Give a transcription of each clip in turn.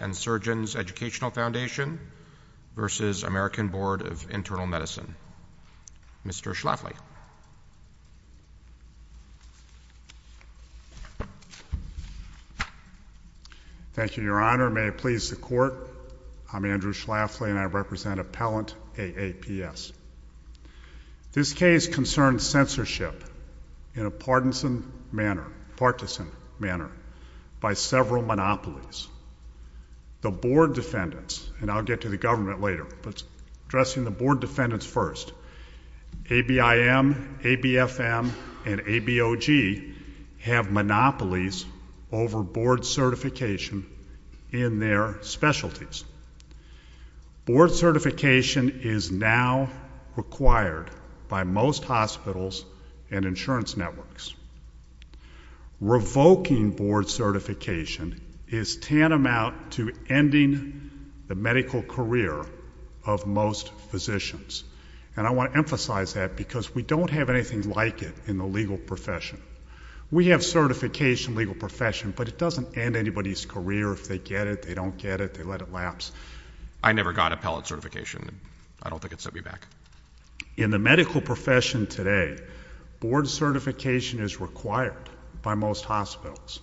Education Foundation v. American Board of Internal Medicine. Andrew Schlafly. I'm Andrew Schlafly, and I represent Appellant AAPS. This case concerns censorship in a partisan manner by several monopolies. The board defendants, and I'll get to the government later, but addressing the board defendants first. ABIM, ABFM, and ABOG have monopolies over board certification in their specialties. Board certification is now required by most hospitals and insurance networks. Revoking board certification is tantamount to ending the medical career of most physicians. And I want to emphasize that because we don't have anything like it in the legal profession. We have certification in the legal profession, but it doesn't end anybody's career if they get it, they don't get it, they let it lapse. I never got appellate certification. I don't think it sent me back. In the medical profession today, board certification is required by most hospitals.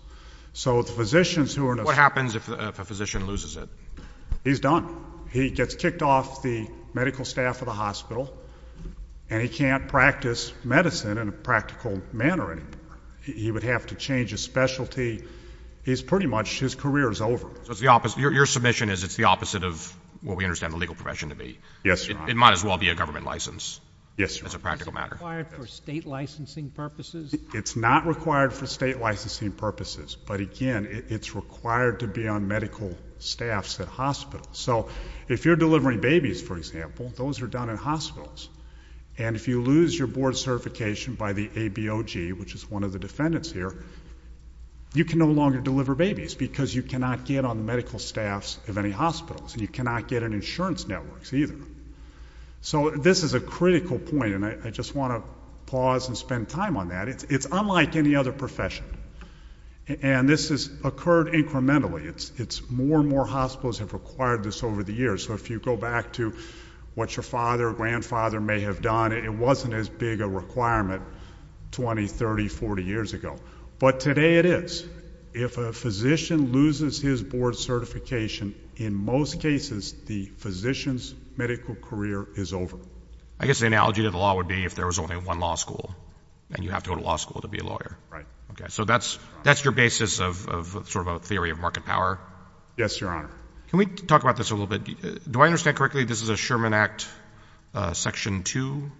What happens if a physician loses it? He's done. He gets kicked off the medical staff of the hospital, and he can't practice medicine in a practical manner anymore. He would have to change his specialty. He's pretty much, his career is over. So it's the opposite, your submission is it's the opposite of what we understand the legal profession to be. Yes, Your Honor. It might as well be a government license. Yes, Your Honor. As a practical matter. Is it required for state licensing purposes? It's not required for state licensing purposes, but again, it's required to be on medical staffs at hospitals. So if you're delivering babies, for example, those are done in hospitals. And if you lose your board certification by the ABOG, which is one of the defendants here, you can no longer deliver babies because you cannot get on the medical staffs of any hospitals, and you cannot get in insurance networks either. So this is a critical point, and I just want to pause and spend time on that. It's unlike any other profession. And this has occurred incrementally. It's more and more hospitals have required this over the years. So if you go back to what your father or grandfather may have done, it wasn't as big a requirement 20, 30, 40 years ago. But today it is. If a physician loses his board certification, in most cases, the physician's medical career is over. I guess the analogy to the law would be if there was only one law school, and you have to go to law school to be a lawyer. Right. Okay, so that's your basis of sort of a theory of market power? Yes, Your Honor. Can we talk about this a little bit? Do I understand correctly this is a Sherman Act Section 2?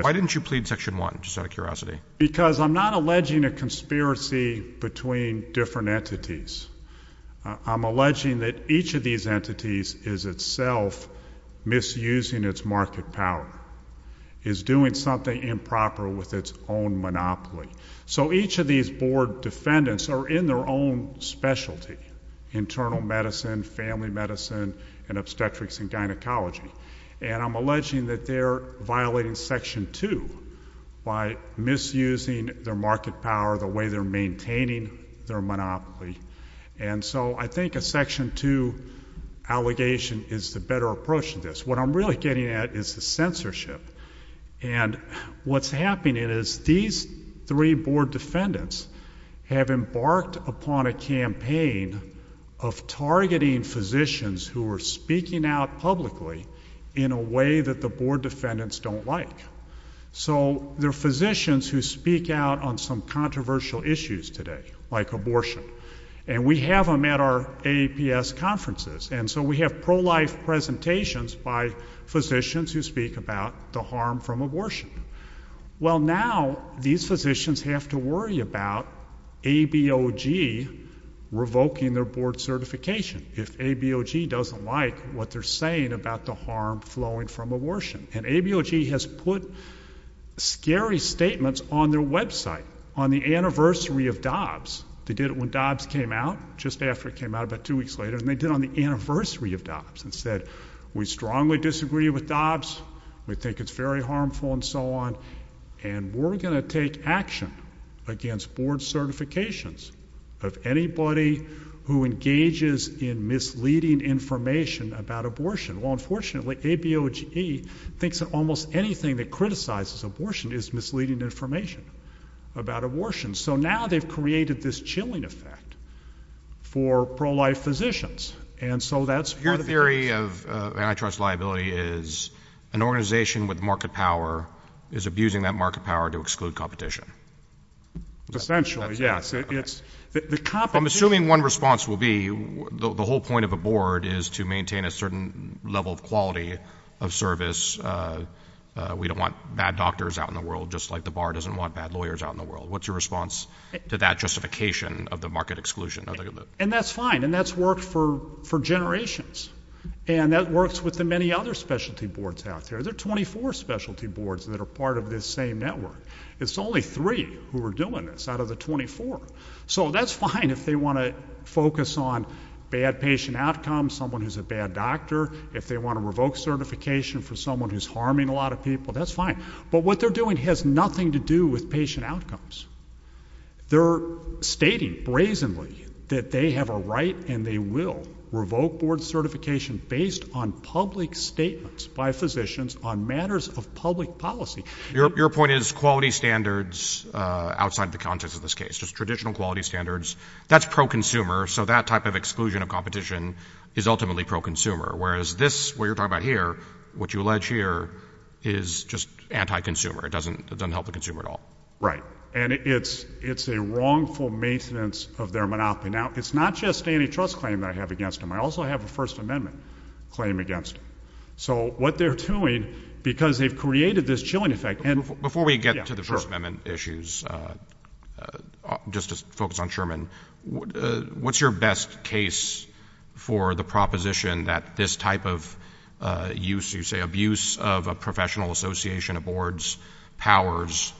Why didn't you plead Section 1, just out of curiosity? Because I'm not alleging a conspiracy between different entities. I'm alleging that each of these entities is itself misusing its market power, is doing something improper with its own monopoly. So each of these board defendants are in their own specialty, internal medicine, family medicine, and obstetrics and gynecology. And I'm alleging that they're violating Section 2 by misusing their market power, the way they're maintaining their monopoly. And so I think a Section 2 allegation is the better approach to this. What I'm really getting at is the censorship. And what's happening is these three board defendants have embarked upon a campaign of targeting physicians who are speaking out publicly in a way that the board defendants don't like. So they're physicians who speak out on some controversial issues today, like abortion, and we have them at our AAPS conferences. And so we have pro-life presentations by physicians who speak about the harm from abortion. Well, now these physicians have to worry about ABOG revoking their board certification. If ABOG doesn't like what they're saying about the harm flowing from abortion. And ABOG has put scary statements on their website, on the anniversary of Dobbs. They did it when Dobbs came out, just after it came out, about two weeks later, and they did it on the anniversary of Dobbs, and said, we strongly disagree with Dobbs, we think it's very harmful, and so on, and we're going to take action against board certifications of anybody who engages in misleading information about abortion. Well, unfortunately, ABOG thinks that almost anything that criticizes abortion is misleading information about abortion. So now they've created this chilling effect for pro-life physicians, and so that's part of the case. Your theory of antitrust liability is an organization with market power is abusing that market power to exclude competition. Essentially, yes. I'm assuming one response will be, the whole point of a board is to maintain a certain level of quality of service, we don't want bad doctors out in the world, just like the bar doesn't want bad lawyers out in the world. What's your response to that justification of the market exclusion? And that's fine, and that's worked for generations. And that works with the many other specialty boards out there. There are 24 specialty boards that are part of this same network. It's only three who are doing this out of the 24. So that's fine if they want to focus on bad patient outcomes, someone who's a bad doctor, if they want to revoke certification for someone who's harming a lot of people, that's fine. But what they're doing has nothing to do with patient outcomes. They're stating brazenly that they have a right and they will revoke board certification based on public statements by physicians on matters of public policy. Your point is quality standards outside the context of this case, just traditional quality standards, that's pro-consumer, so that type of exclusion of competition is ultimately pro-consumer, whereas this, what you're talking about here, what you allege here is just anti-consumer. It doesn't help the consumer at all. Right. And it's a wrongful maintenance of their monopoly. Now, it's not just antitrust claim that I have against them. I also have a First Amendment claim against them. So what they're doing, because they've created this chilling effect, and— Just to focus on Sherman, what's your best case for the proposition that this type of use, you say abuse of a professional association of boards' powers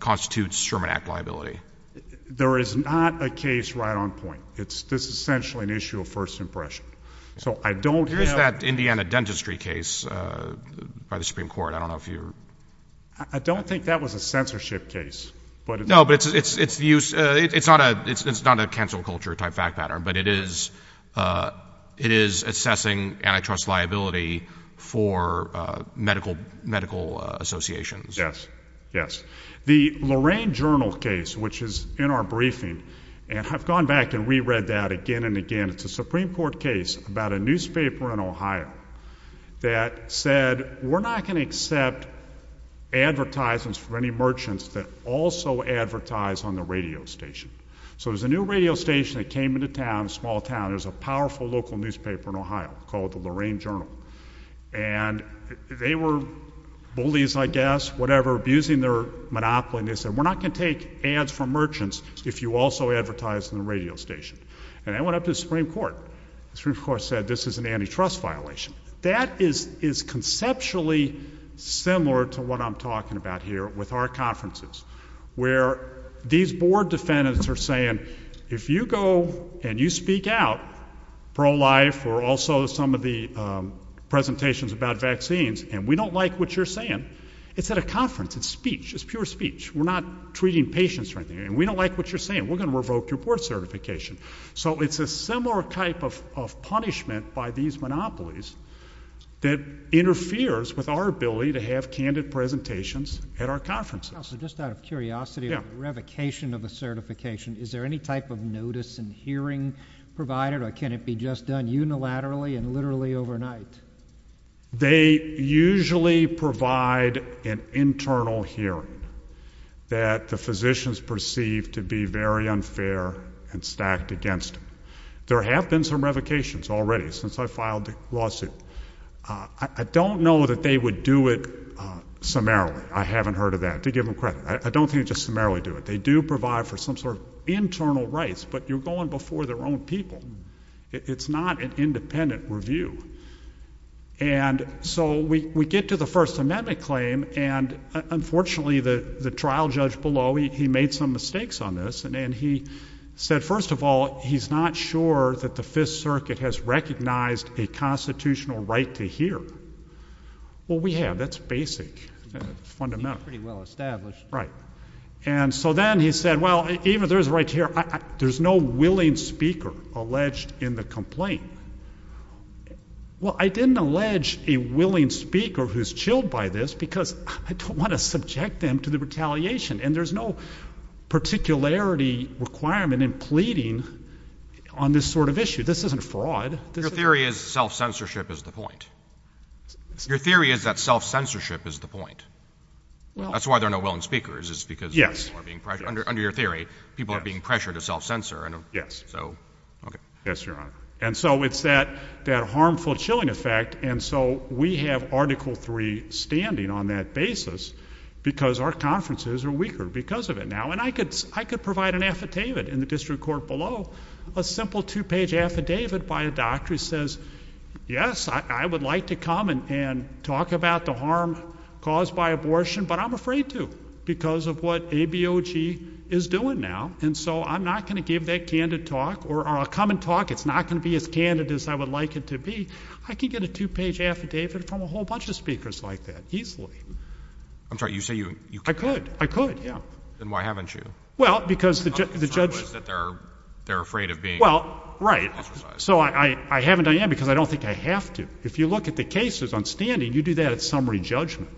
constitutes Sherman Act liability? There is not a case right on point. This is essentially an issue of first impression. So I don't— Here's that Indiana dentistry case by the Supreme Court. I don't know if you're— I don't think that was a censorship case. No, but it's the use—it's not a cancel culture type fact pattern, but it is assessing antitrust liability for medical associations. Yes. Yes. The Lorraine Journal case, which is in our briefing, and I've gone back and re-read that again and again. It's a Supreme Court case about a newspaper in Ohio that said, we're not going to accept advertisements from any merchants that also advertise on the radio station. So there's a new radio station that came into town, a small town. There's a powerful local newspaper in Ohio called the Lorraine Journal. And they were bullies, I guess, whatever, abusing their monopoly. And they said, we're not going to take ads from merchants if you also advertise on the radio station. And I went up to the Supreme Court. The Supreme Court said, this is an antitrust violation. That is conceptually similar to what I'm talking about here with our conferences, where these board defendants are saying, if you go and you speak out pro-life or also some of the presentations about vaccines, and we don't like what you're saying, it's at a conference. It's speech. It's pure speech. We're not treating patients or anything. And we don't like what you're saying. We're going to revoke your board certification. So it's a similar type of punishment by these monopolies that interferes with our ability to have candid presentations at our conferences. Just out of curiosity, a revocation of a certification, is there any type of notice and hearing provided? Or can it be just done unilaterally and literally overnight? They usually provide an internal hearing that the physicians perceive to be very unfair and stacked against them. There have been some revocations already since I filed the lawsuit. I don't know that they would do it summarily. I haven't heard of that, to give them credit. I don't think they just summarily do it. They do provide for some sort of internal rights, but you're going before their own people. It's not an independent review. And so we get to the First Amendment claim, and unfortunately, the trial judge below, he made some mistakes on this. And he said, first of all, he's not sure that the Fifth Circuit has recognized a constitutional right to hear. Well, we have. That's basic, fundamental. It's pretty well established. Right. And so then he said, well, even if there's a right to hear, there's no willing speaker alleged in the complaint. Well, I didn't allege a willing speaker who's chilled by this, because I don't want to subject them to the retaliation. And there's no particularity requirement in pleading on this sort of issue. This isn't fraud. Your theory is self-censorship is the point. Your theory is that self-censorship is the point. That's why there are no willing speakers, is because people are being pressured. Under your theory, people are being pressured to self-censor. Yes, Your Honor. And so it's that harmful chilling effect. And so we have Article III standing on that basis, because our conferences are weaker because of it now. And I could provide an affidavit in the district court below, a simple two-page affidavit by a doctor who says, yes, I would like to come and talk about the harm caused by abortion, but I'm afraid to, because of what ABOG is doing now. And so I'm not going to give that candid talk, or a coming talk, it's not going to be as candid as I would like it to be. I could get a two-page affidavit from a whole bunch of speakers like that, easily. I'm sorry, you say you could. I could, I could, yeah. Then why haven't you? Well, because the judge... The problem is that they're afraid of being ostracized. Well, right, so I haven't done that because I don't think I have to. If you look at the cases on standing, you do that at summary judgment.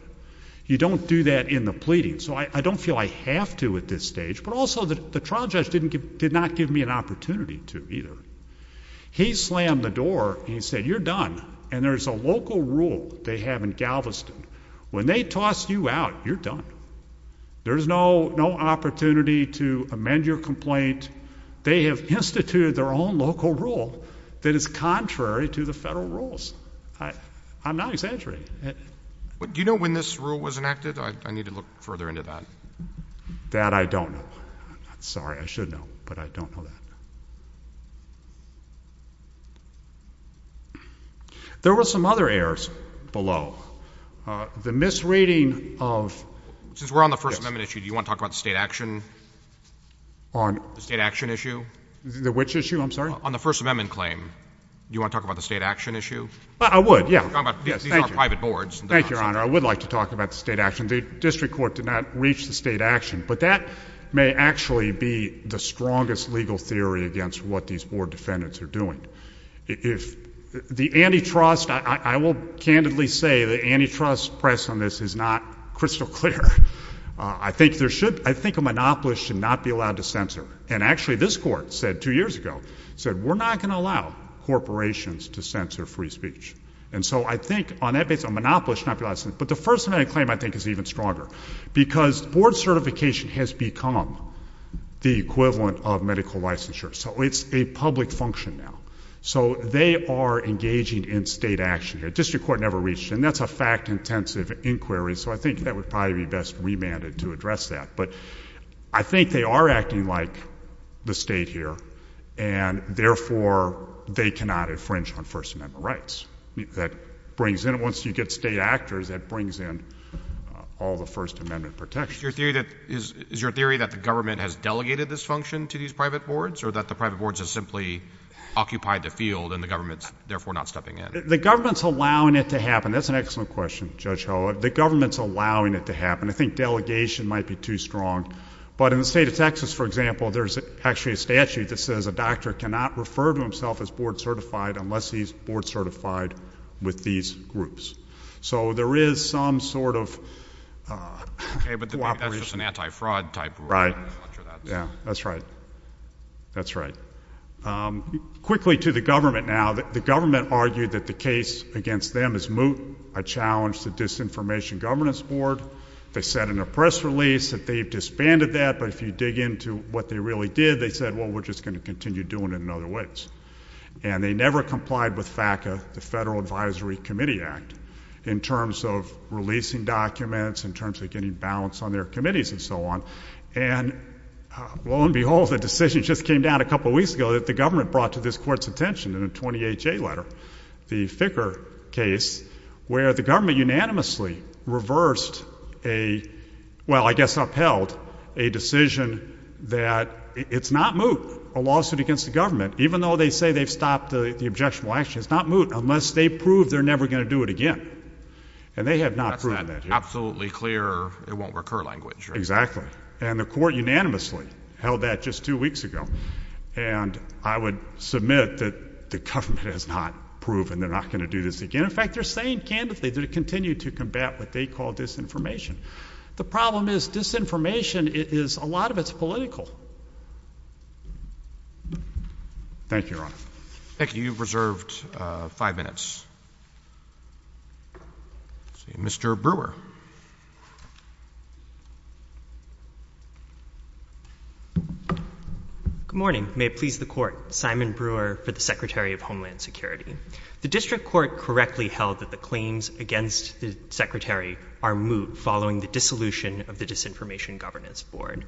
You don't do that in the pleading. So I don't feel I have to at this stage, but also the trial judge did not give me an opportunity to either. When you're done, and there's a local rule they have in Galveston, when they toss you out, you're done. There's no opportunity to amend your complaint. They have instituted their own local rule that is contrary to the federal rules. I'm not exaggerating. Do you know when this rule was enacted? I need to look further into that. That I don't know. Sorry, I should know, but I don't know that. There were some other errors below. The misreading of... Since we're on the First Amendment issue, do you want to talk about the state action? On... The state action issue. Which issue, I'm sorry? On the First Amendment claim. Do you want to talk about the state action issue? I would, yeah. These are private boards. Thank you, Your Honor. I would like to talk about the state action. The district court did not reach the state action, but that may actually be the strongest legal theory that we have today. The antitrust... I will candidly say the antitrust press on this is not crystal clear. I think there should... I think a monopolist should not be allowed to censor. And actually, this court said two years ago, said we're not going to allow corporations to censor free speech. And so I think on that basis, a monopolist should not be licensed. But the First Amendment claim, I think, is even stronger. Because board certification has become the equivalent of medical licensure. So it's a public function now. It's a public function in state action here. District court never reached it. And that's a fact-intensive inquiry. So I think that would probably be best remanded to address that. But I think they are acting like the state here. And therefore, they cannot infringe on First Amendment rights. That brings in... Once you get state actors, that brings in all the First Amendment protections. has delegated this function to these private boards? Or that the private boards have simply occupied the field and the government's therefore not stepping in? The government's allowing it to happen. That's an excellent question, Judge Ho. The government's allowing it to happen. I think delegation might be too strong. But in the state of Texas, for example, there's actually a statute that says a doctor cannot refer to himself as board-certified unless he's board-certified with these groups. So there is some sort of cooperation. Okay, but that's just an anti-fraud type rule. Right. I'm not sure that's... Yeah, that's right. I mean, strictly to the government now, the government argued that the case against them is moot. I challenged the Disinformation Governance Board. They said in a press release that they've disbanded that, but if you dig into what they really did, they said, well, we're just going to continue doing it in other ways. And they never complied with FACA, the Federal Advisory Committee Act, in terms of releasing documents, in terms of getting balance on their committees, and so on. And lo and behold, it caught the court's attention in a 20HA letter, the Ficker case, where the government unanimously reversed a, well, I guess upheld, a decision that it's not moot, a lawsuit against the government, even though they say they've stopped the objectionable action, it's not moot unless they prove they're never going to do it again. And they have not proven that here. That's an absolutely clear, it won't recur language, right? Exactly. And the court unanimously held that just two weeks ago. And I would submit that the government has not proven they're not going to do this again. In fact, they're saying candidly they're going to continue to combat what they call disinformation. The problem is disinformation is, a lot of it's political. Thank you, Your Honor. Thank you. You've reserved five minutes. Mr. Brewer. Good morning. May it please the court, Simon Brewer for the Secretary of Homeland Security. The district court correctly held that the claims against the secretary are moot following the dissolution of the Disinformation Governance Board.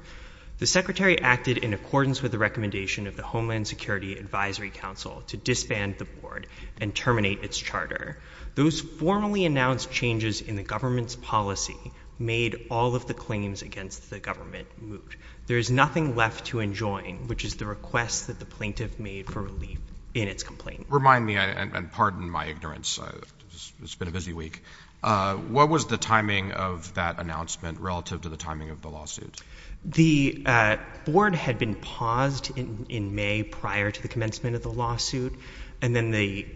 The secretary acted in accordance with the recommendation of the Homeland Security Advisory Council to disband the board and terminate its charter. Those formally announced changes in the government's policy made all of the claims against the government moot. There is nothing left to enjoin, which is the request that the plaintiff made for relief in its complaint. Remind me, and pardon my ignorance. It's been a busy week. What was the timing of that announcement relative to the timing of the lawsuit? The board had been paused in May prior to the commencement of the lawsuit. And then the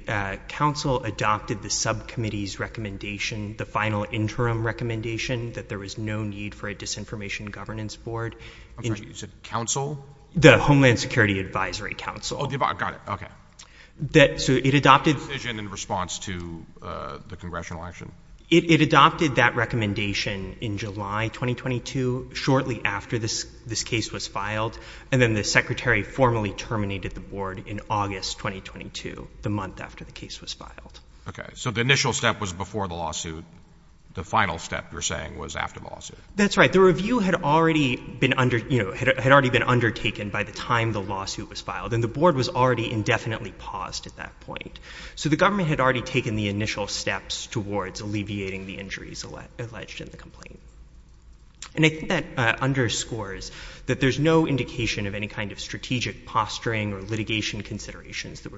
council adopted the subcommittee's recommendation for a final interim recommendation that there was no need for a Disinformation Governance Board. I'm sorry, you said council? The Homeland Security Advisory Council. Oh, got it, okay. So it adopted... The decision in response to the congressional election. It adopted that recommendation in July 2022, shortly after this case was filed. And then the secretary formally terminated the board in August 2022, the month after the case was filed. And then the final step, you're saying, was after the lawsuit? That's right. The review had already been undertaken by the time the lawsuit was filed. And the board was already indefinitely paused at that point. So the government had already taken the initial steps towards alleviating the injuries alleged in the complaint. And I think that underscores that there's no indication of any kind of strategic posturing or litigation considerations that there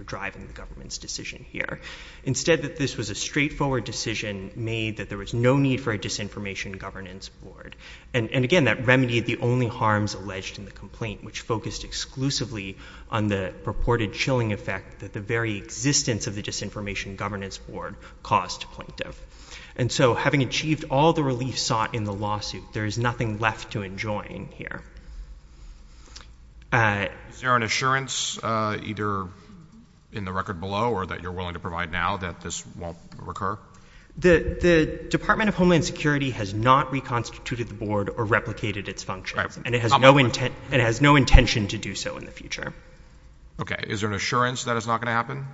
was no need for a Disinformation Governance Board. And again, that remedied the only harms alleged in the complaint, which focused exclusively on the purported chilling effect that the very existence of the Disinformation Governance Board caused plaintiff. And so having achieved all the relief sought in the lawsuit, there is nothing left to enjoy in here. Is there an assurance, either in the record below or that you're willing to provide now that the Department of Homeland Security has not reconstituted the board or replicated its functions and it has no intention to do so in the future? Okay. Is there an assurance that it's not going to happen?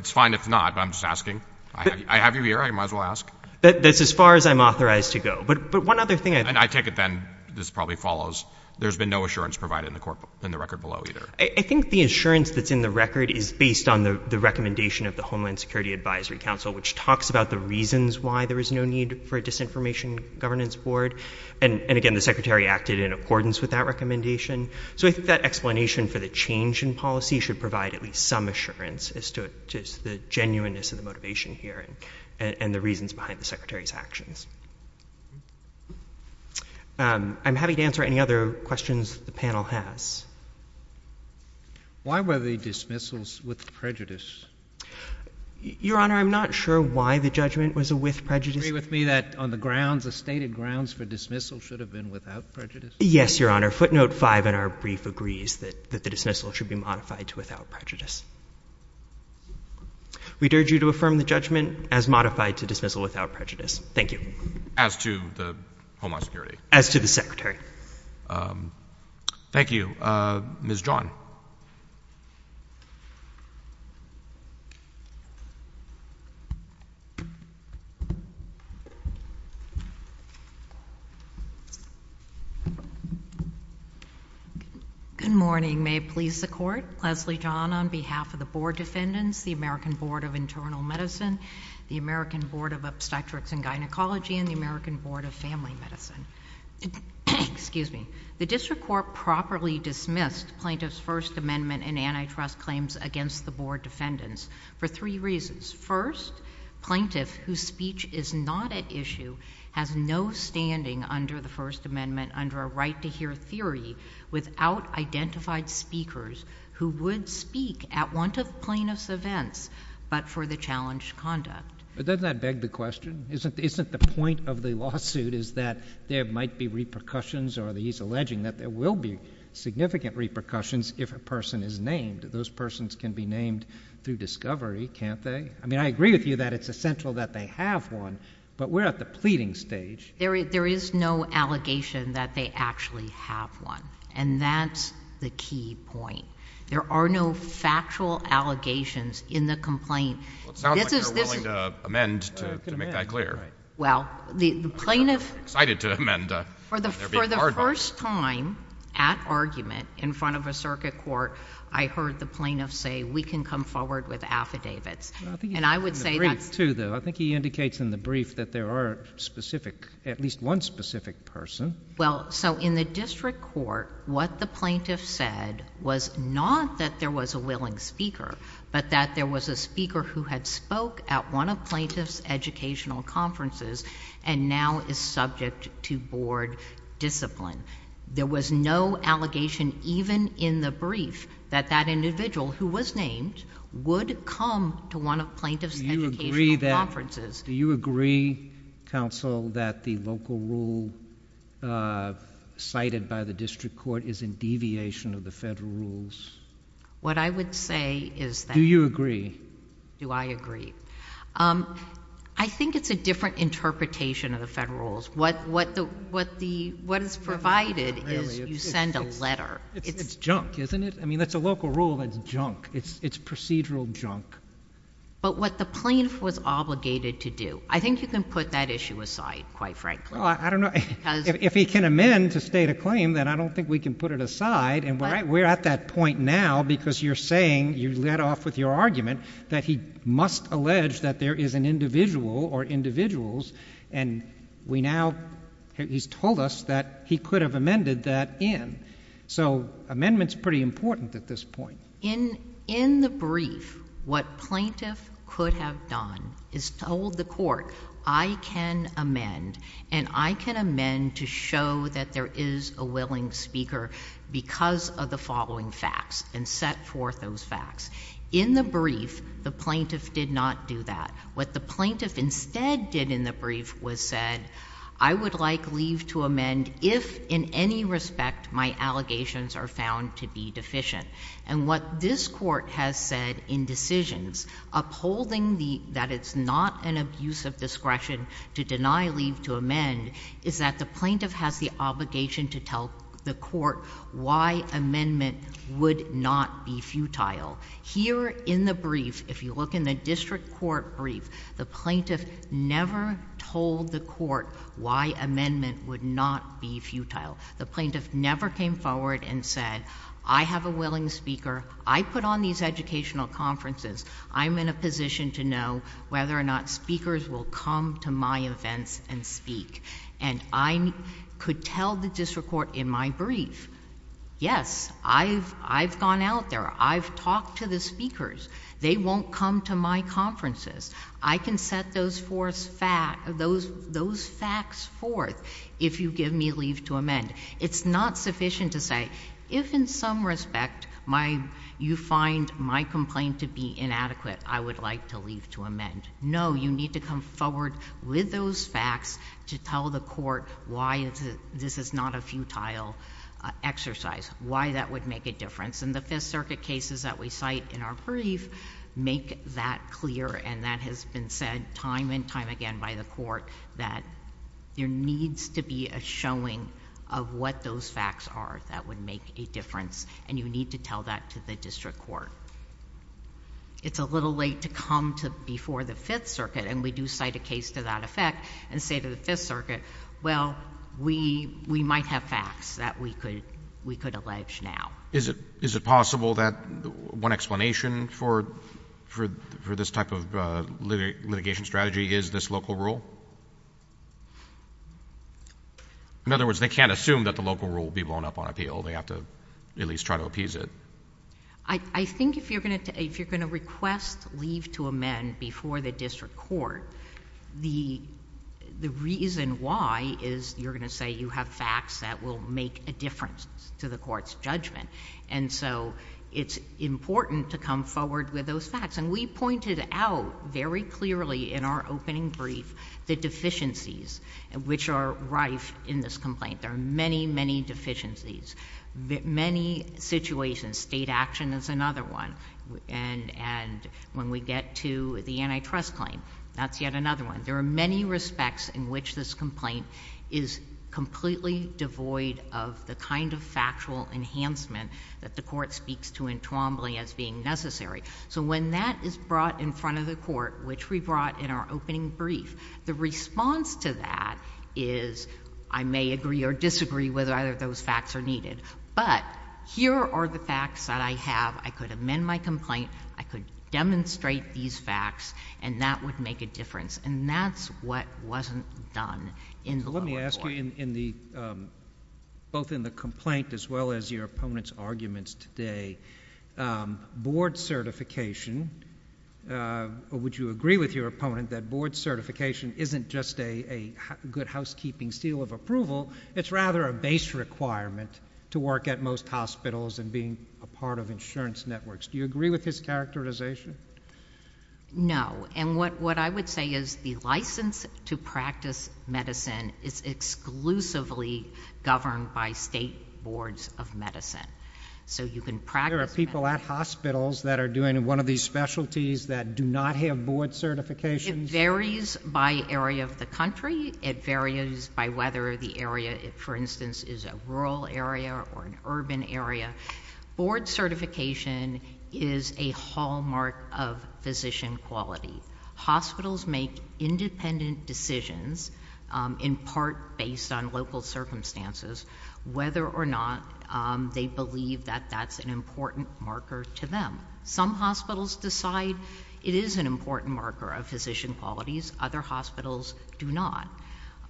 It's fine if it's not, but I'm just asking. I have you here. I might as well ask. That's as far as I'm authorized to go. And I take it then this probably follows. There's been no assurance provided in the record below either. Why there is no need for a Disinformation Governance Board. And again, the Secretary acted in accordance with that recommendation. So I think that explanation for the change in policy should provide at least some assurance as to the genuineness of the motivation here and the reasons behind the Secretary's actions. I'm happy to answer any other questions the panel has. Why were they dismissals with prejudice? Do you agree with me that on the grounds, the stated grounds for dismissal should have been without prejudice? Yes, Your Honor. Footnote 5 in our brief agrees that the dismissal should be modified to without prejudice. We urge you to affirm the judgment as modified to dismissal without prejudice. Thank you. As to the Homeland Security? As to the Secretary. Thank you. Ms. John. Good morning. May it please the Court. Leslie John on behalf of the Board of Defendants, the American Board of Internal Medicine, the American Board of Obstetrics and Gynecology, and the American Board of Family Medicine. Excuse me. We have dismissed plaintiff's First Amendment and antitrust claims against the Board of Defendants for three reasons. First, plaintiff whose speech is not at issue has no standing under the First Amendment under a right-to-hear theory without identified speakers who would speak at want of plaintiff's events but for the challenged conduct. But doesn't that beg the question? Isn't the point of the lawsuit that there are significant repercussions if a person is named? Those persons can be named through discovery, can't they? I mean, I agree with you that it's essential that they have one, but we're at the pleading stage. There is no allegation that they actually have one, and that's the key point. There are no factual allegations in the complaint. Well, it sounds like you're willing to amend to make that clear. Well, the plaintiff in front of a circuit court, I heard the plaintiff say, we can come forward with affidavits. And I would say that's... I think he indicates in the brief that there are specific, at least one specific person. Well, so in the district court, what the plaintiff said was not that there was a willing speaker, but that there was a speaker who had spoke at one of plaintiff's educational conferences and now is subject to board discipline. There was no allegation even in the brief that that individual who was named would come to one of plaintiff's educational conferences. Do you agree, counsel, that the local rule cited by the district court is in deviation of the federal rules? What I would say is that... Do you agree? Do I agree? I think it's a different interpretation of the federal rules. What is provided is you send a letter. It's junk, isn't it? I mean, that's a local rule that's junk. It's procedural junk. But what the plaintiff was obligated to do, I think you can put that issue aside, quite frankly. Well, I don't know. If he can amend to state a claim, then I don't think we can put it aside. And we're at that point now because you're saying, you led off with your argument that he must allege that there is an individual or individuals, and we now... He's told us that he could have amended that in. So amendment's pretty important at this point. In the brief, what plaintiff could have done is told the court, I can amend, and I can amend to show that there is a willing speaker because of the following facts and set forth those facts. In the brief, the plaintiff did not do that. What the plaintiff instead did in the brief was said, I would like leave to amend if in any respect my allegations are found to be deficient. And what this court has said in decisions, upholding that it's not an abuse of discretion to deny leave to amend, is that the plaintiff has the obligation to tell the court why amendment would not be futile. Here in the brief, if you look in the district court brief, the plaintiff never told the court why amendment would not be futile. The plaintiff never came forward and said, I have a willing speaker. I put on these educational conferences. I'm in a position to know whether or not speakers will come to my events and speak. And I could tell the district court in my brief, yes, I've gone out there. I've talked to the speakers. They won't come to my conferences. I can set those facts forth if you give me leave to amend. It's not sufficient to say, if in some respect you find my complaint to be inadequate, I would like to leave to amend. No, you need to come forward with those facts to tell the court why this is not a futile exercise, why that would make a difference. In the Fifth Circuit cases that we cite in the district court brief make that clear, and that has been said time and time again by the court, that there needs to be a showing of what those facts are that would make a difference, and you need to tell that to the district court. It's a little late to come before the Fifth Circuit, and we do cite a case to that effect and say to the Fifth Circuit, well, we might have facts that we could allege now. Is it possible that one explanation for this type of litigation strategy is this local rule? In other words, they can't assume that the local rule will be blown up on appeal. They have to at least try to appease it. I think if you're going to request leave to amend before the district court, the reason why is you're going to say you have facts that will make a difference to the court's judgment, and so it's important to come forward with those facts, and we pointed out very clearly in our opening brief the deficiencies which are rife in this complaint. There are many, many deficiencies, many situations. State action is another one, and when we get to the antitrust claim, that's yet another one. There are many respects in which this complaint is completely devoid of the kind of factual enhancement that the court speaks to in Twombly as being necessary. So when that is brought in front of the court, which we brought in our opening brief, the response to that is I may agree or disagree whether either of those facts are needed, but here are the facts that I have. I could amend my complaint. I could demonstrate these facts, and that would make a difference, and that's what wasn't done in the lower court. Let me ask you, both in the complaint as well as your opponent's arguments today, board certification, would you agree with your opponent that board certification isn't just a good housekeeping seal of approval? It's rather a base requirement to work at most hospitals and being a part of insurance networks. Do you agree with his characterization? No, and what I would say is the license to practice medical care and medical medicine is exclusively governed by state boards of medicine. So you can practice... There are people at hospitals that are doing one of these specialties that do not have board certifications. It varies by area of the country. It varies by whether the area, for instance, is a rural area or an urban area. Board certification is a hallmark of physician quality. Hospitals make independent decisions in part based on local circumstances whether or not they believe that that's an important marker to them. Some hospitals decide it is an important marker of physician qualities. Other hospitals do not.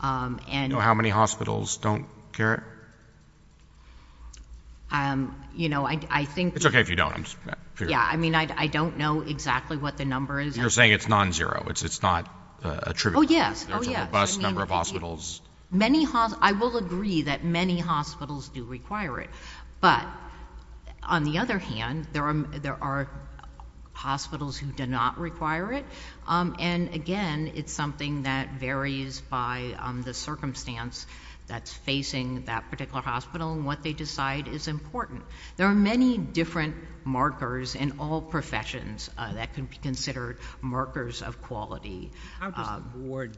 How many hospitals don't care? You know, I think... It's okay if you don't. I don't know exactly what the number is. You're saying it's non-zero. It's not attributable. How many hospitals... I will agree that many hospitals do require it. But on the other hand, there are hospitals who do not require it. And again, it's something that varies by the circumstance that's facing that particular hospital and what they decide is important. There are many different markers in all professions that can be considered markers of quality. How does the board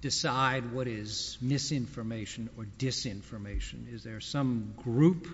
decide what is misinformation or disinformation? Is there some group?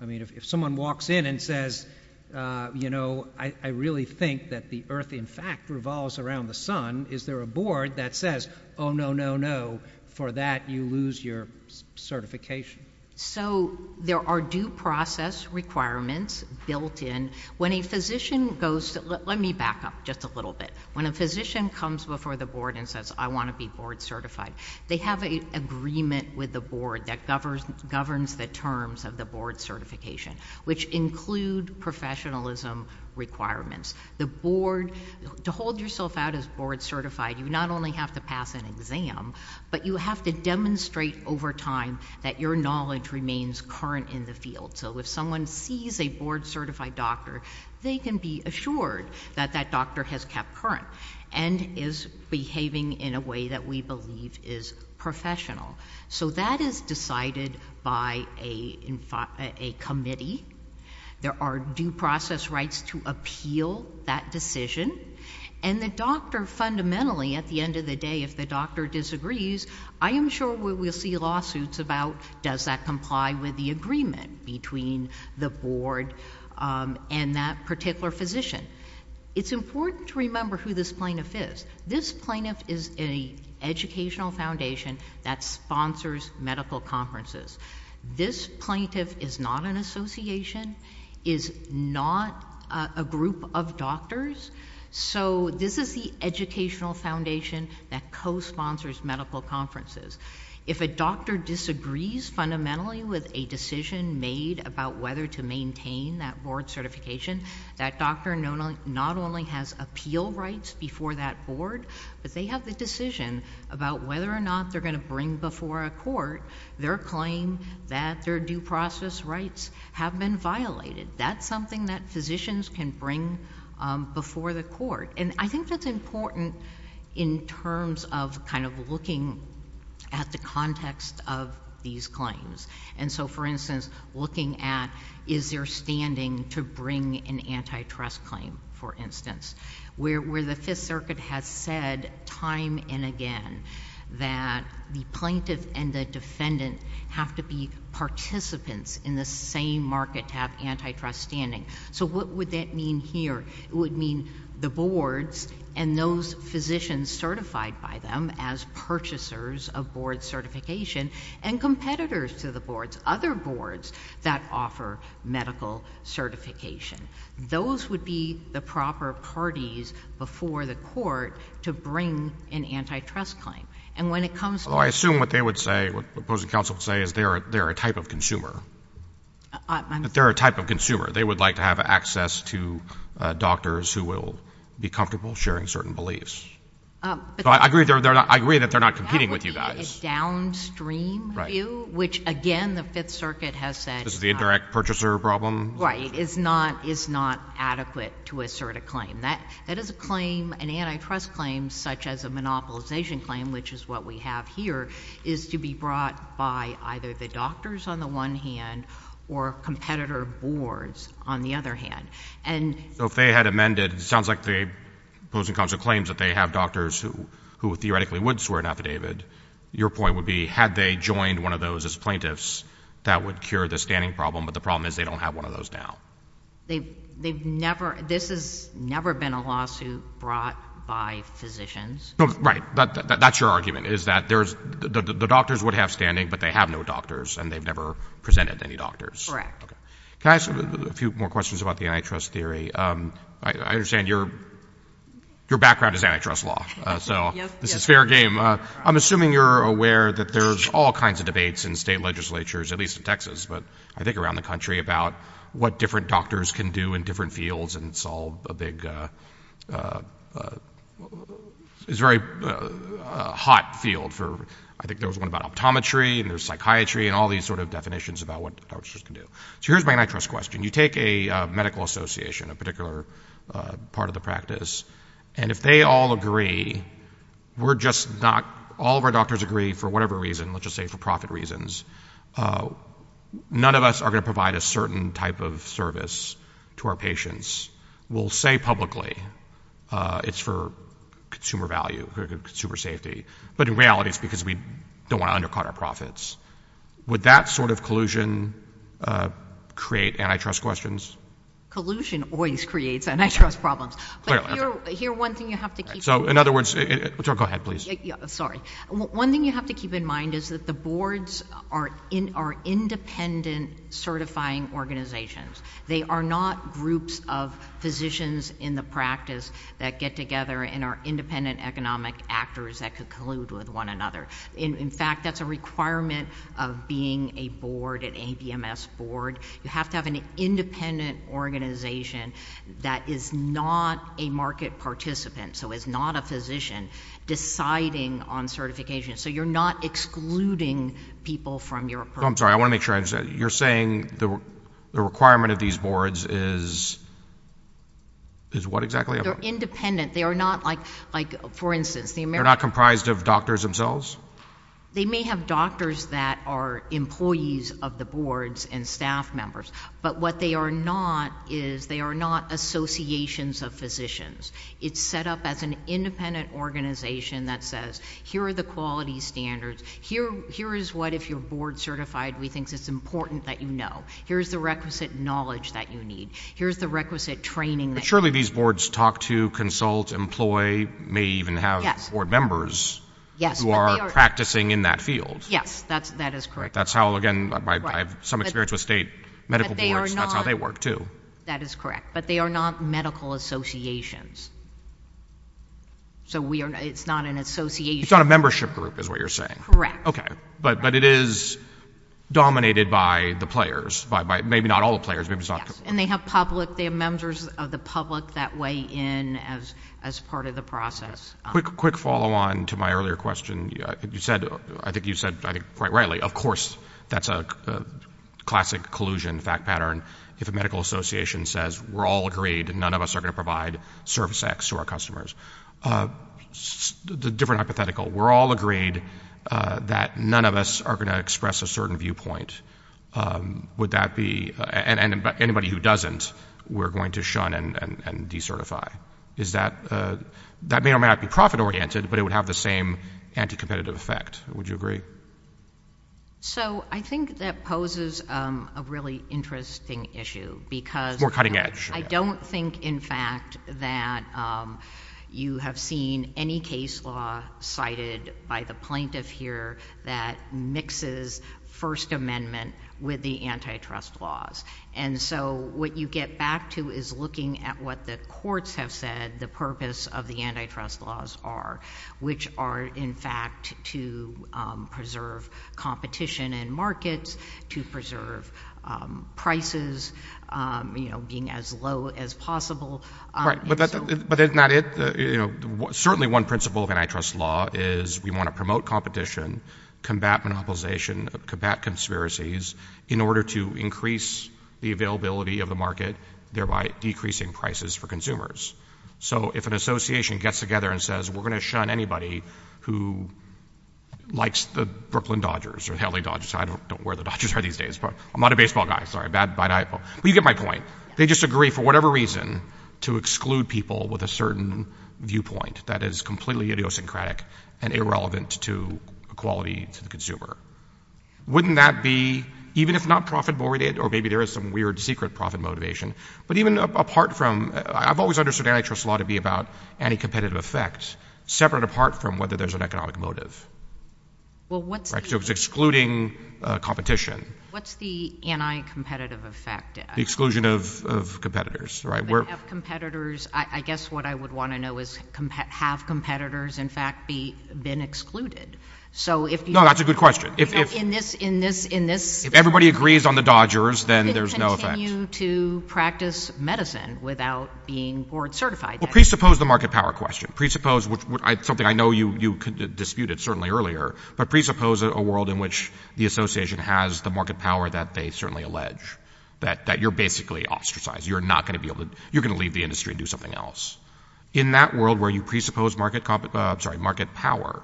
I mean, if someone walks in and says, you know, I really think that the earth in fact revolves around the sun, is there a board that says, oh, no, no, no, for that you lose your certification? So there are due process requirements built in. When a physician goes... Let me back up just a little bit. When a physician comes before the board and says I want to be board certified, they have an agreement with the board that governs the terms of the board certification, which include professionalism requirements. The board... To hold yourself out as board certified, you not only have to pass an exam, but you have to demonstrate over time that your knowledge remains current in the field. So if someone sees a board certified doctor, they can be assured that that doctor has kept current and is behaving in a way that we believe is professional. So that is decided by a committee. There are due process rights to appeal that decision. And the doctor fundamentally, at the end of the day, if the doctor disagrees, I am sure we will see lawsuits about does that comply with the agreement between the board and that particular physician. It's important to remember who this plaintiff is. This plaintiff is an educational foundation that sponsors medical conferences. This plaintiff is not an association, is not a group of doctors. So this is the educational foundation that co-sponsors medical conferences. If a doctor disagrees fundamentally with a decision made about whether to maintain that board certification, that doctor not only has appeal rights before that board, but they have the decision about whether or not they're going to bring before a court their claim that their due process rights have been violated. That's something that physicians can bring before the court. And I think that's important in terms of kind of looking at the context of these claims. And so, for instance, looking at is there standing to bring an antitrust claim, for instance, where the Fifth Circuit has said time and again that the plaintiff and the defendant have to be participants in the same market to have antitrust standing. So what would that mean here? It would mean the boards and those physicians certified by them as purchasers of board certification and competitors to the boards, that offer medical certification. Those would be the proper parties before the court to bring an antitrust claim. And when it comes to... Well, I assume what they would say, what opposing counsel would say, is they're a type of consumer. They're a type of consumer. They would like to have access to doctors who will be comfortable sharing certain beliefs. I agree that they're not competing with you guys. That would be a downstream view, which, again, the Fifth Circuit has said... This is the indirect purchaser problem? Right. It's not adequate to assert a claim. That is a claim, an antitrust claim, such as a monopolization claim, which is what we have here, is to be brought by either the doctors on the one hand or competitor boards on the other hand. And... So if they had amended, it sounds like the opposing counsel claims that they have doctors who theoretically would swear an affidavit. They would have one of those as plaintiffs that would cure the standing problem, but the problem is they don't have one of those now. They've never... This has never been a lawsuit brought by physicians. Right. That's your argument, is that the doctors would have standing, but they have no doctors, and they've never presented any doctors. Correct. Can I ask a few more questions about the antitrust theory? I understand your background is antitrust law, so this is fair game. I'm assuming you're aware that there have been state legislatures, at least in Texas, but I think around the country, about what different doctors can do in different fields, and it's all a big... It's a very hot field for... I think there was one about optometry, and there's psychiatry, and all these sort of definitions about what doctors can do. So here's my antitrust question. You take a medical association, a particular part of the practice, and if they all agree, we're just not... All of our doctors agree for whatever reason, let's just say for profit reasons, none of us are going to provide a certain type of service to our patients. We'll say publicly, it's for consumer value, for consumer safety, but in reality it's because we don't want to undercut our profits. Would that sort of collusion create antitrust questions? Collusion always creates antitrust problems. Clearly. Here, one thing you have to keep... So in other words... Go ahead, please. Sorry. One thing you have to keep in mind is that the boards are independent certifying organizations. They are not groups of physicians in the practice that get together and are independent economic actors that could collude with one another. In fact, that's a requirement of being a board, an ABMS board. You have to have an independent organization that is not a market participant, so is not a physician, deciding on certification. So you're not excluding people from your approach. I'm sorry, I want to make sure I understand. You're saying the requirement of these boards is what exactly? They're independent. They are not like, for instance... They're not comprised of doctors themselves? They may have doctors that are employees of the boards and staff members, but what they are not are not associations of physicians. It's set up as an independent organization that says, here are the quality standards. Here is what, if you're board certified, we think it's important that you know. Here's the requisite knowledge that you need. Here's the requisite training that you need. But surely these boards talk to, consult, employ, may even have board members who are practicing in that field. Yes, that is correct. That's how, again, I have some experience with state medical boards. That's how they work, too. That is correct. But they are not medical associations. So it's not an association. It's not a membership group, is what you're saying. Correct. Okay, but it is dominated by the players. Maybe not all the players. Yes, and they have public, they have members of the public that weigh in as part of the process. Quick follow on to my earlier question. I think you said, I think quite rightly, of course, that's a classic collusion, fact pattern. If a medical association says, we're all agreed, none of us are going to provide service X to our customers. Different hypothetical. We're all agreed that none of us are going to express a certain viewpoint. Would that be, and anybody who doesn't, we're going to shun and decertify. Is that, that may or may not be profit oriented, but it would have the same anti-competitive effect. Would you agree? So, I think that poses a really interesting issue. More cutting edge. I don't think, in fact, that you have seen any case law cited by the plaintiff here that mixes First Amendment with the antitrust laws. And so, what you get back to is looking at what the courts have said the purpose of the antitrust laws are, which are, in fact, to preserve competition in markets, to preserve prices, you know, being as low as possible. Right, but that's not it. You know, certainly one principle of antitrust law is we want to promote competition, combat monopolization, combat conspiracies, in order to increase the availability of the market, thereby decreasing prices for consumers. So, if an association gets together and says, we're going to shun anybody who likes the Brooklyn Dodgers or the LA Dodgers. I don't know where the Dodgers are these days. I'm not a baseball guy, sorry. But you get my point. They just agree, for whatever reason, to exclude people with a certain viewpoint that is completely idiosyncratic and irrelevant to equality to the consumer. Wouldn't that be, even if not profit-oriented, or maybe there is some weird secret profit motivation, but even apart from, I've always understood antitrust law to be about anti-competitive effect, separate apart from whether there's an economic motive. Well, what's the... Right, so it's excluding competition. What's the anti-competitive effect? The exclusion of competitors, right? But have competitors, I guess what I would want to know is, have competitors, in fact, been excluded? No, that's a good question. In this... If everybody agrees on the Dodgers, then there's no effect. How are you to practice medicine without being board-certified? Well, presuppose the market power question. Presuppose, which is something I know you disputed certainly earlier, but presuppose a world in which the association has the market power that they certainly allege, that you're basically ostracized. You're not going to be able to, you're going to leave the industry and do something else. In that world where you presuppose market power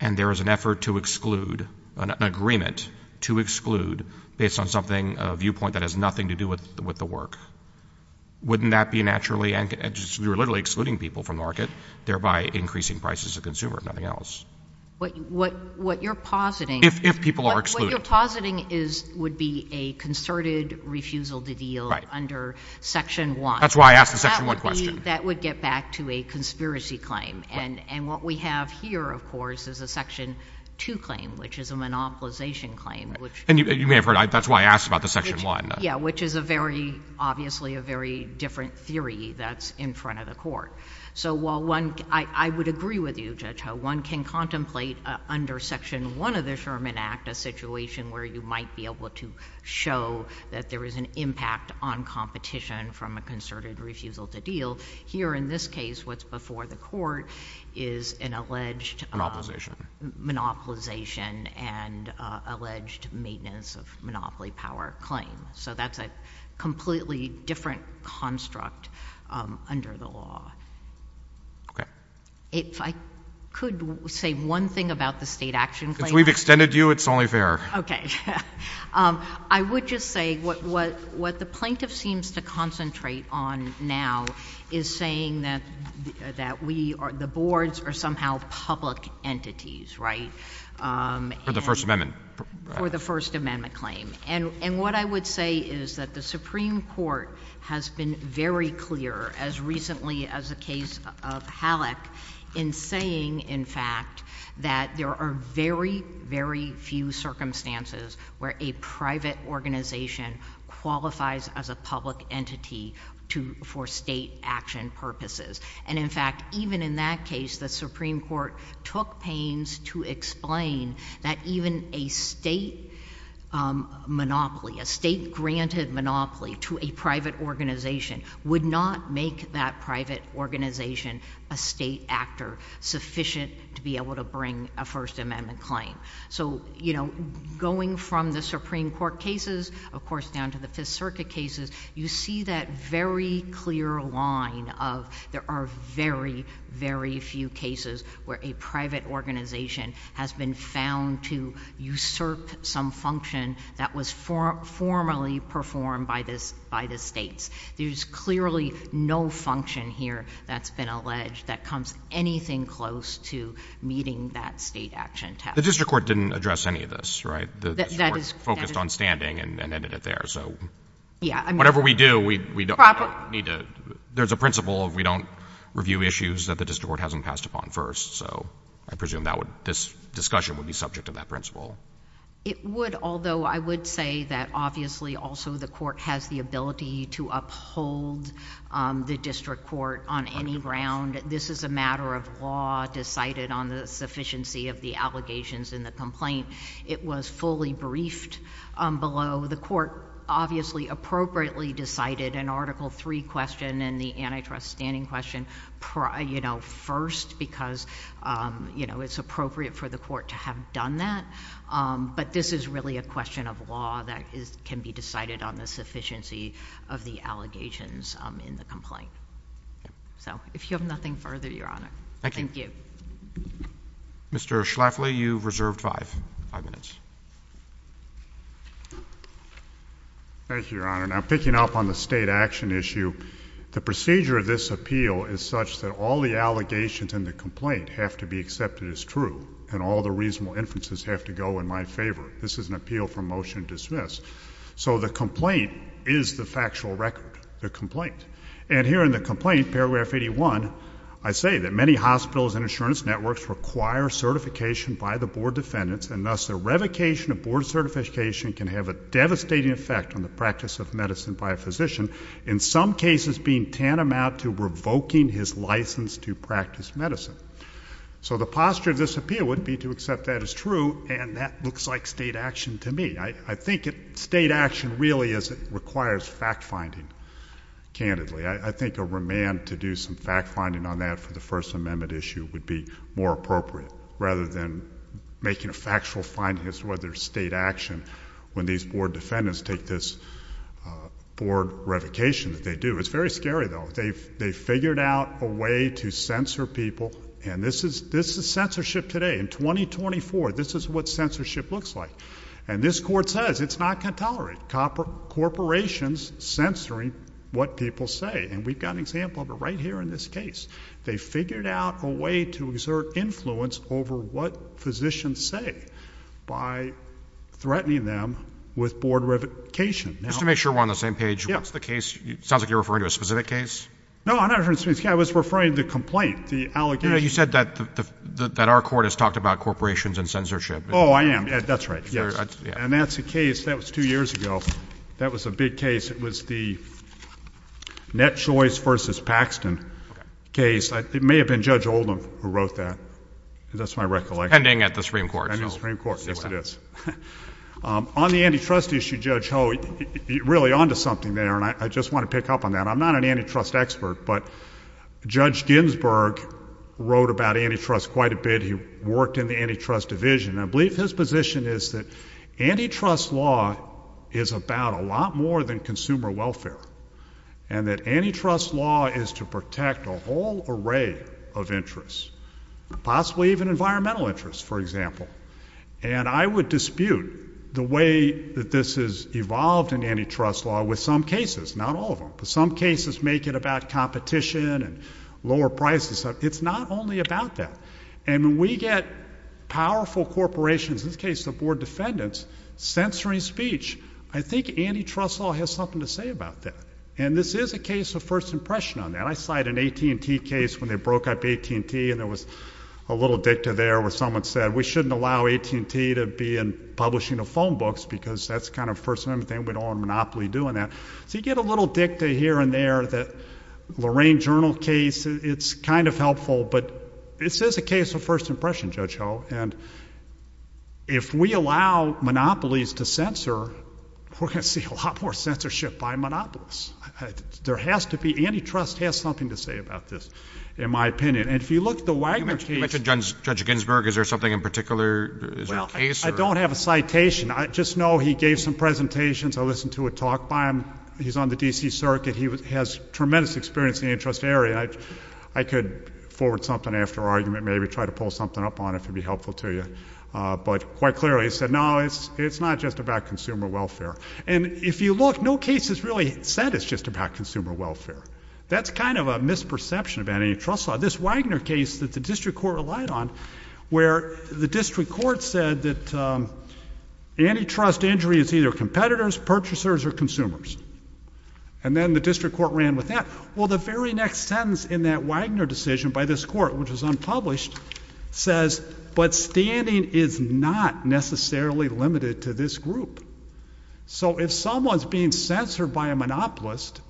and there is an effort to exclude, an agreement to exclude has nothing to do with the work. Wouldn't that be naturally... You're literally excluding people from the market, thereby increasing prices to the consumer if nothing else. What you're positing... If people are excluded. What you're positing would be a concerted refusal to deal under Section 1. That's why I asked the Section 1 question. That would get back to a conspiracy claim. And what we have here, of course, is a Section 2 claim, which is a monopolization claim. And you may have heard, which is obviously a very different theory that's in front of the court. I would agree with you, Judge Ho. One can contemplate under Section 1 of the Sherman Act a situation where you might be able to show that there is an impact on competition from a concerted refusal to deal. Here in this case, what's before the court is an alleged monopolization and alleged maintenance of monopoly power claim. It's a completely different construct under the law. Okay. If I could say one thing about the state action claim... Since we've extended you, it's only fair. Okay. I would just say what the plaintiff seems to concentrate on now is saying that the boards are somehow public entities, right? For the First Amendment. For the First Amendment claim. And what I would say is that the Supreme Court has been very clear as recently as the case of Halleck in saying, in fact, that there are very, very few circumstances where a private organization qualifies as a public entity for state action purposes. And, in fact, even in that case, the Supreme Court took pains to explain that even a state monopoly, a state-granted monopoly to a private organization would not make that private organization a state actor sufficient to be able to bring a First Amendment claim. So, you know, going from the Supreme Court cases, of course, down to the Fifth Circuit cases, you see that very clear line of there are very, very few cases where a private organization has been found to usurp some function that was not formally performed by the states. There's clearly no function here that's been alleged that comes anything close to meeting that state action task. The district court didn't address any of this, right? That is... The court focused on standing and ended it there, so... Yeah, I mean... Whatever we do, we don't need to... There's a principle of we don't review issues that the district court hasn't passed upon first, so I presume this discussion would be subject to that principle. It would, although I would say that obviously also the court has the ability to uphold the district court on any ground. This is a matter of law decided on the sufficiency of the allegations in the complaint. It was fully briefed below. The court obviously an Article III question and the antitrust standing question, you know, first, because, you know, it's appropriate for the court to have done that, but this is really a question of law that can be decided on the sufficiency of the allegations in the complaint. So, if you have nothing further, Your Honor, thank you. Thank you. Mr. Schlafly, you've reserved five minutes. Thank you, Your Honor. Now, picking up on the state action issue, the procedure of this appeal is such that all the allegations in the complaint have to be accepted as true and all the reasonable inferences have to go in my favor. This is an appeal for motion to dismiss. So the complaint is the factual record, the complaint. And here in the complaint, paragraph 81, I say that many hospitals and insurance networks require certification by the board defendants and thus the revocation of board certification can have a devastating effect on the practice of medicine by a physician, in some cases being tantamount to revoking his license to practice medicine. So the posture of this appeal would be to accept that as true and that looks like state action to me. I think state action really requires fact-finding, candidly. I think a remand to do some fact-finding on that for the First Amendment issue would be more appropriate rather than making a factual finding as to whether state action when these board defendants take this board revocation that they do. It's very scary, though. They've figured out a way to censor people and this is censorship today. In 2024, this is what censorship looks like. And this court says it's not going to tolerate corporations censoring what people say. And we've got an example of it right here in this case. They've figured out a way to exert influence over what physicians say by threatening them with board revocation. Just to make sure we're on the same page, what's the case? Sounds like you're referring to a specific case. No, I'm not referring to a specific case. I was referring to the complaint, the allegation. No, you said that our court has talked about corporations and censorship. Oh, I am. That's right, yes. And that's a case that was two years ago. That was a big case. It was the Net Choice versus Paxton case. It may have been Judge Oldham who wrote that. That's my recollection. Pending at the Supreme Court. Pending at the Supreme Court. Yes, it is. On the antitrust issue, Judge Ho, you're really onto something there and I just want to pick up on that. I'm not an antitrust expert, but Judge Ginsburg wrote about antitrust quite a bit. He worked in the antitrust division. I believe his position is that antitrust law is about a lot more than consumer welfare and that antitrust law is to protect a whole array of interests, possibly even environmental interests, for example. And I would dispute the way that this has evolved in antitrust law with some cases, not all of them, but some cases make it about competition and lower prices. It's not only about that. And when we get powerful corporations, in this case the Board of Defendants, censoring speech, I think antitrust law has something to say about that. And this is a case of first impression on that. I cite an AT&T case when they broke up AT&T and there was a little dicta there where someone said we shouldn't allow AT&T to be in publishing of phone books because that's kind of the first amendment thing. We don't want Monopoly doing that. So you get a little dicta here and there that Lorraine Journal case, it's kind of helpful, but this is a case of first impression, Judge Ho. And if we allow monopolies to censor, we're going to see a lot more censorship by monopolists. There has to be, antitrust has something to say about this, in my opinion. And if you look at the Wagner case... You mentioned Judge Ginsburg. Is there something in particular? Is there a case? I don't have a citation. I just know he gave some presentations. I listened to a talk by him. He's on the D.C. Circuit. He has tremendous experience in the antitrust area. I could forward something after argument, maybe try to pull something up on it if it would be helpful to you. But quite clearly he said no, it's not just about consumer welfare. And if you look, no case has really said it's just about consumer welfare. That's kind of a misperception of antitrust law. This Wagner case that the district court relied on where the district court said that antitrust injury is either competitors, purchasers, or consumers. And then the district court ran with that. Well, the very next sentence in that Wagner decision by this court, which was unpublished, says, but standing is not necessarily limited to this group. So if someone's being censored by a monopolist,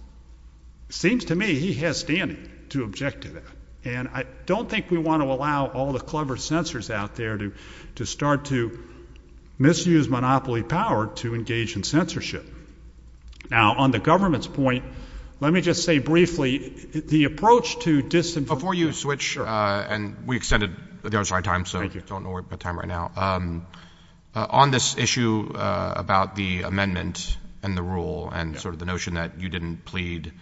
seems to me he has standing to object to that. And I don't think we want to allow all the clever censors out there to start to misuse monopoly power to engage in censorship. Now, on the government's point, let me just say briefly, the approach to disinformation... Before you switch, and we extended the time, so don't worry about time right now. On this issue about the amendment and the rule and sort of the notion that you didn't plead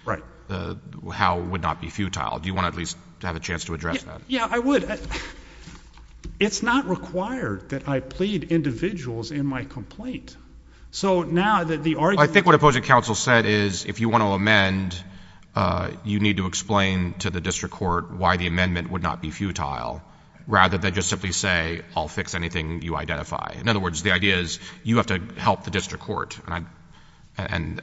how it would not be futile, do you want to at least have a chance to address that? Yeah, I would. It's not required that I plead individuals in my complaint. So now that the argument... I think what opposing counsel said is if you want to amend, you need to explain to the district court why the amendment would not be futile rather than just simply say I'll fix anything you identify. In other words, the idea is you have to help the district court and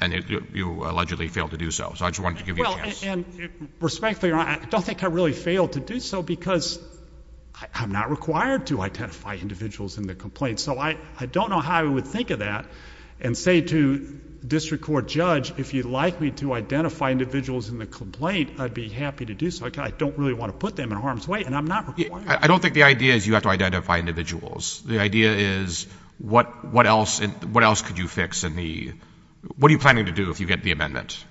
you allegedly failed to do so. So I just wanted to give you a chance. And respectfully, I don't think I really failed to do so because I'm not required to identify individuals in the complaint. So I don't know how I would think of that and say to the district court judge if you'd like me to identify individuals in the complaint, I'd be happy to do so. I don't really want to put them in harm's way, and I'm not required. I don't think the idea is you have to identify individuals. The idea is what else could you fix? What are you planning to do if you get the amendment?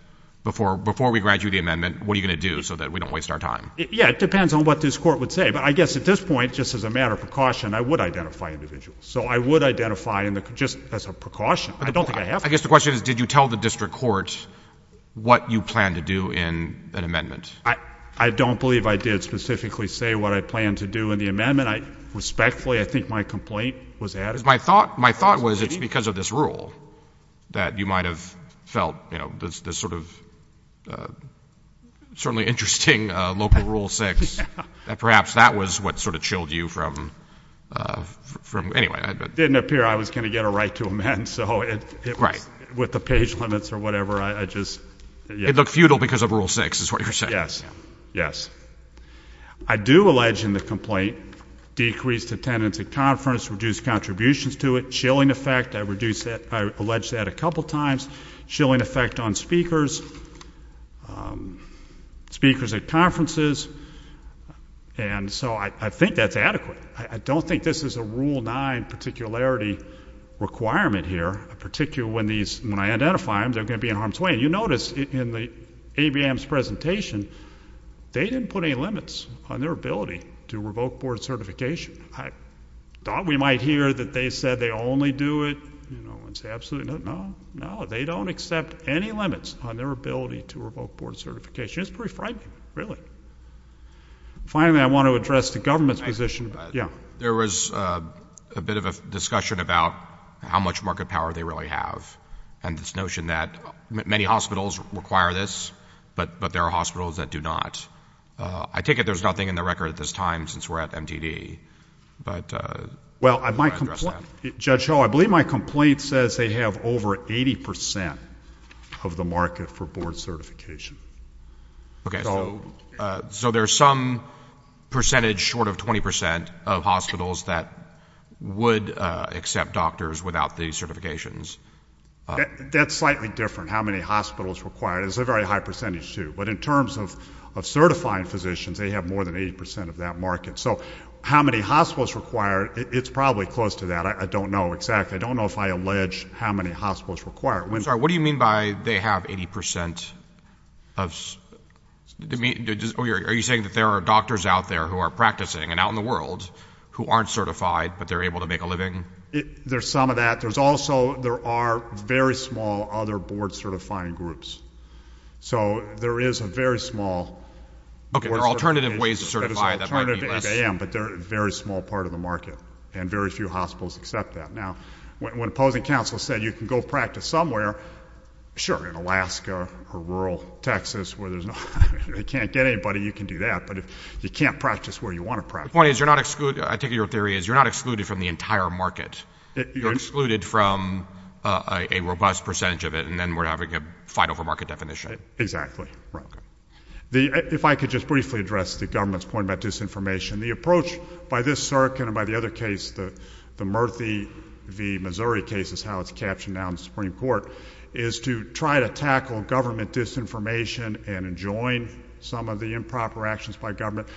Before we grant you the amendment, what are you going to do so that we don't waste our time? Yeah, it depends on what this court would say. But I guess at this point, just as a matter of precaution, I would identify individuals. So I would identify just as a precaution. I don't think I have to. I guess the question is, did you tell the district court what you planned to do in an amendment? I don't believe I did specifically say what I planned to do in the amendment. Respectfully, I think my complaint was added. My thought was it's because of this rule that you might have felt this sort of certainly interesting local rule 6. Perhaps that was what sort of chilled you from... Anyway. It didn't appear I was going to get a right to amend. So with the page limits or whatever, I just... It looked futile because of rule 6, is what you're saying. Yes. I do allege in the complaint decreased attendance at conferences, reduced contributions to it, chilling effect. I allege that a couple times. Chilling effect on speakers, speakers at conferences. And so I think that's adequate. I don't think this is a rule 9 particularity requirement here, particularly when I identify them, they're going to be in harm's way. You notice in the AVM's presentation, they didn't put any limits on their ability to revoke board certification. I thought we might hear that they said they only do it. No, no. They don't accept any limits on their ability to revoke board certification. It's pretty frightening, really. Finally, I want to address the government's position. Yeah. There was a bit of a discussion about how much market power they really have and this notion that many hospitals require this, but there are hospitals that do not. I take it there's nothing in the record at this time since we're at MTD, but... Well, Judge Hull, I believe my complaint says they have over 80% of the market for board certification. Okay. So there's some percentage short of 20% of hospitals that would accept doctors without these certifications. That's slightly different, how many hospitals require it. It's a very high percentage, too. But in terms of certifying physicians, they have more than 80% of that market. So how many hospitals require it, it's probably close to that. I don't know exactly. I don't know if I allege how many hospitals require it. I'm sorry, what do you mean by they have 80% of... Are you saying that there are doctors out there who are practicing and out in the world who aren't certified but they're able to make a living? There's some of that. There's also, there are very small other board-certifying groups. So there is a very small... Okay, there are alternative ways to certify. There's an alternative to ABM, but they're a very small part of the market and very few hospitals accept that. Now, when opposing counsel said you can go practice somewhere, sure, in Alaska or rural Texas where there's no... If you can't get anybody, you can do that. But if you can't practice where you want to practice... The point is, I take it your theory is you're not excluded from the entire market. You're excluded from a robust percentage of it and then we're having a fight over market definition. Exactly. If I could just briefly address the government's point about disinformation. The approach by this circuit and by the other case, the Murphy v. Missouri case, is how it's captioned now in the Supreme Court, is to try to tackle government disinformation and enjoin some of the improper actions by government.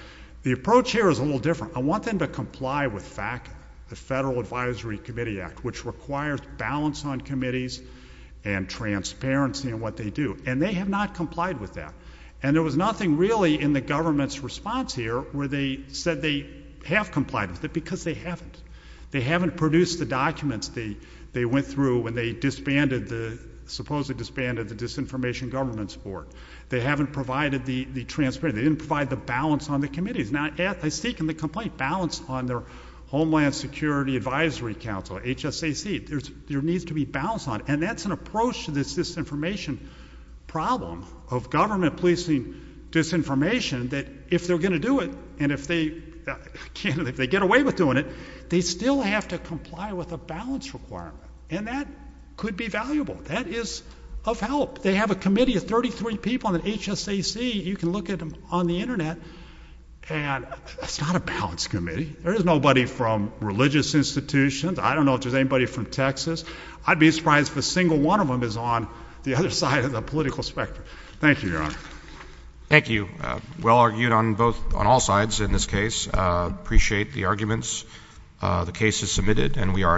The approach here is a little different. I want them to comply with FACA, the Federal Advisory Committee Act, which requires balance on committees and transparency in what they do. And they have not complied with that. And there was nothing really in the government's response here where they said they have complied with it, because they haven't. They haven't produced the documents they went through when they disbanded the... supposedly disbanded the Disinformation Governance Board. They haven't provided the transparency. They didn't provide the balance on the committees. Now, they're seeking the complete balance on their Homeland Security Advisory Council, HSAC. There needs to be balance on it. And that's an approach to this disinformation problem of government policing disinformation that if they're going to do it, and if they get away with doing it, they still have to comply with a balance requirement. And that could be valuable. That is of help. They have a committee of 33 people in the HSAC. You can look at them on the Internet. And it's not a balance committee. There is nobody from religious institutions. I don't know if there's anybody from Texas. I'd be surprised if a single one of them is on the other side of the political spectrum. Thank you, Your Honor. Thank you. Well argued on all sides in this case. Appreciate the arguments. The case is submitted, and we are adjourned.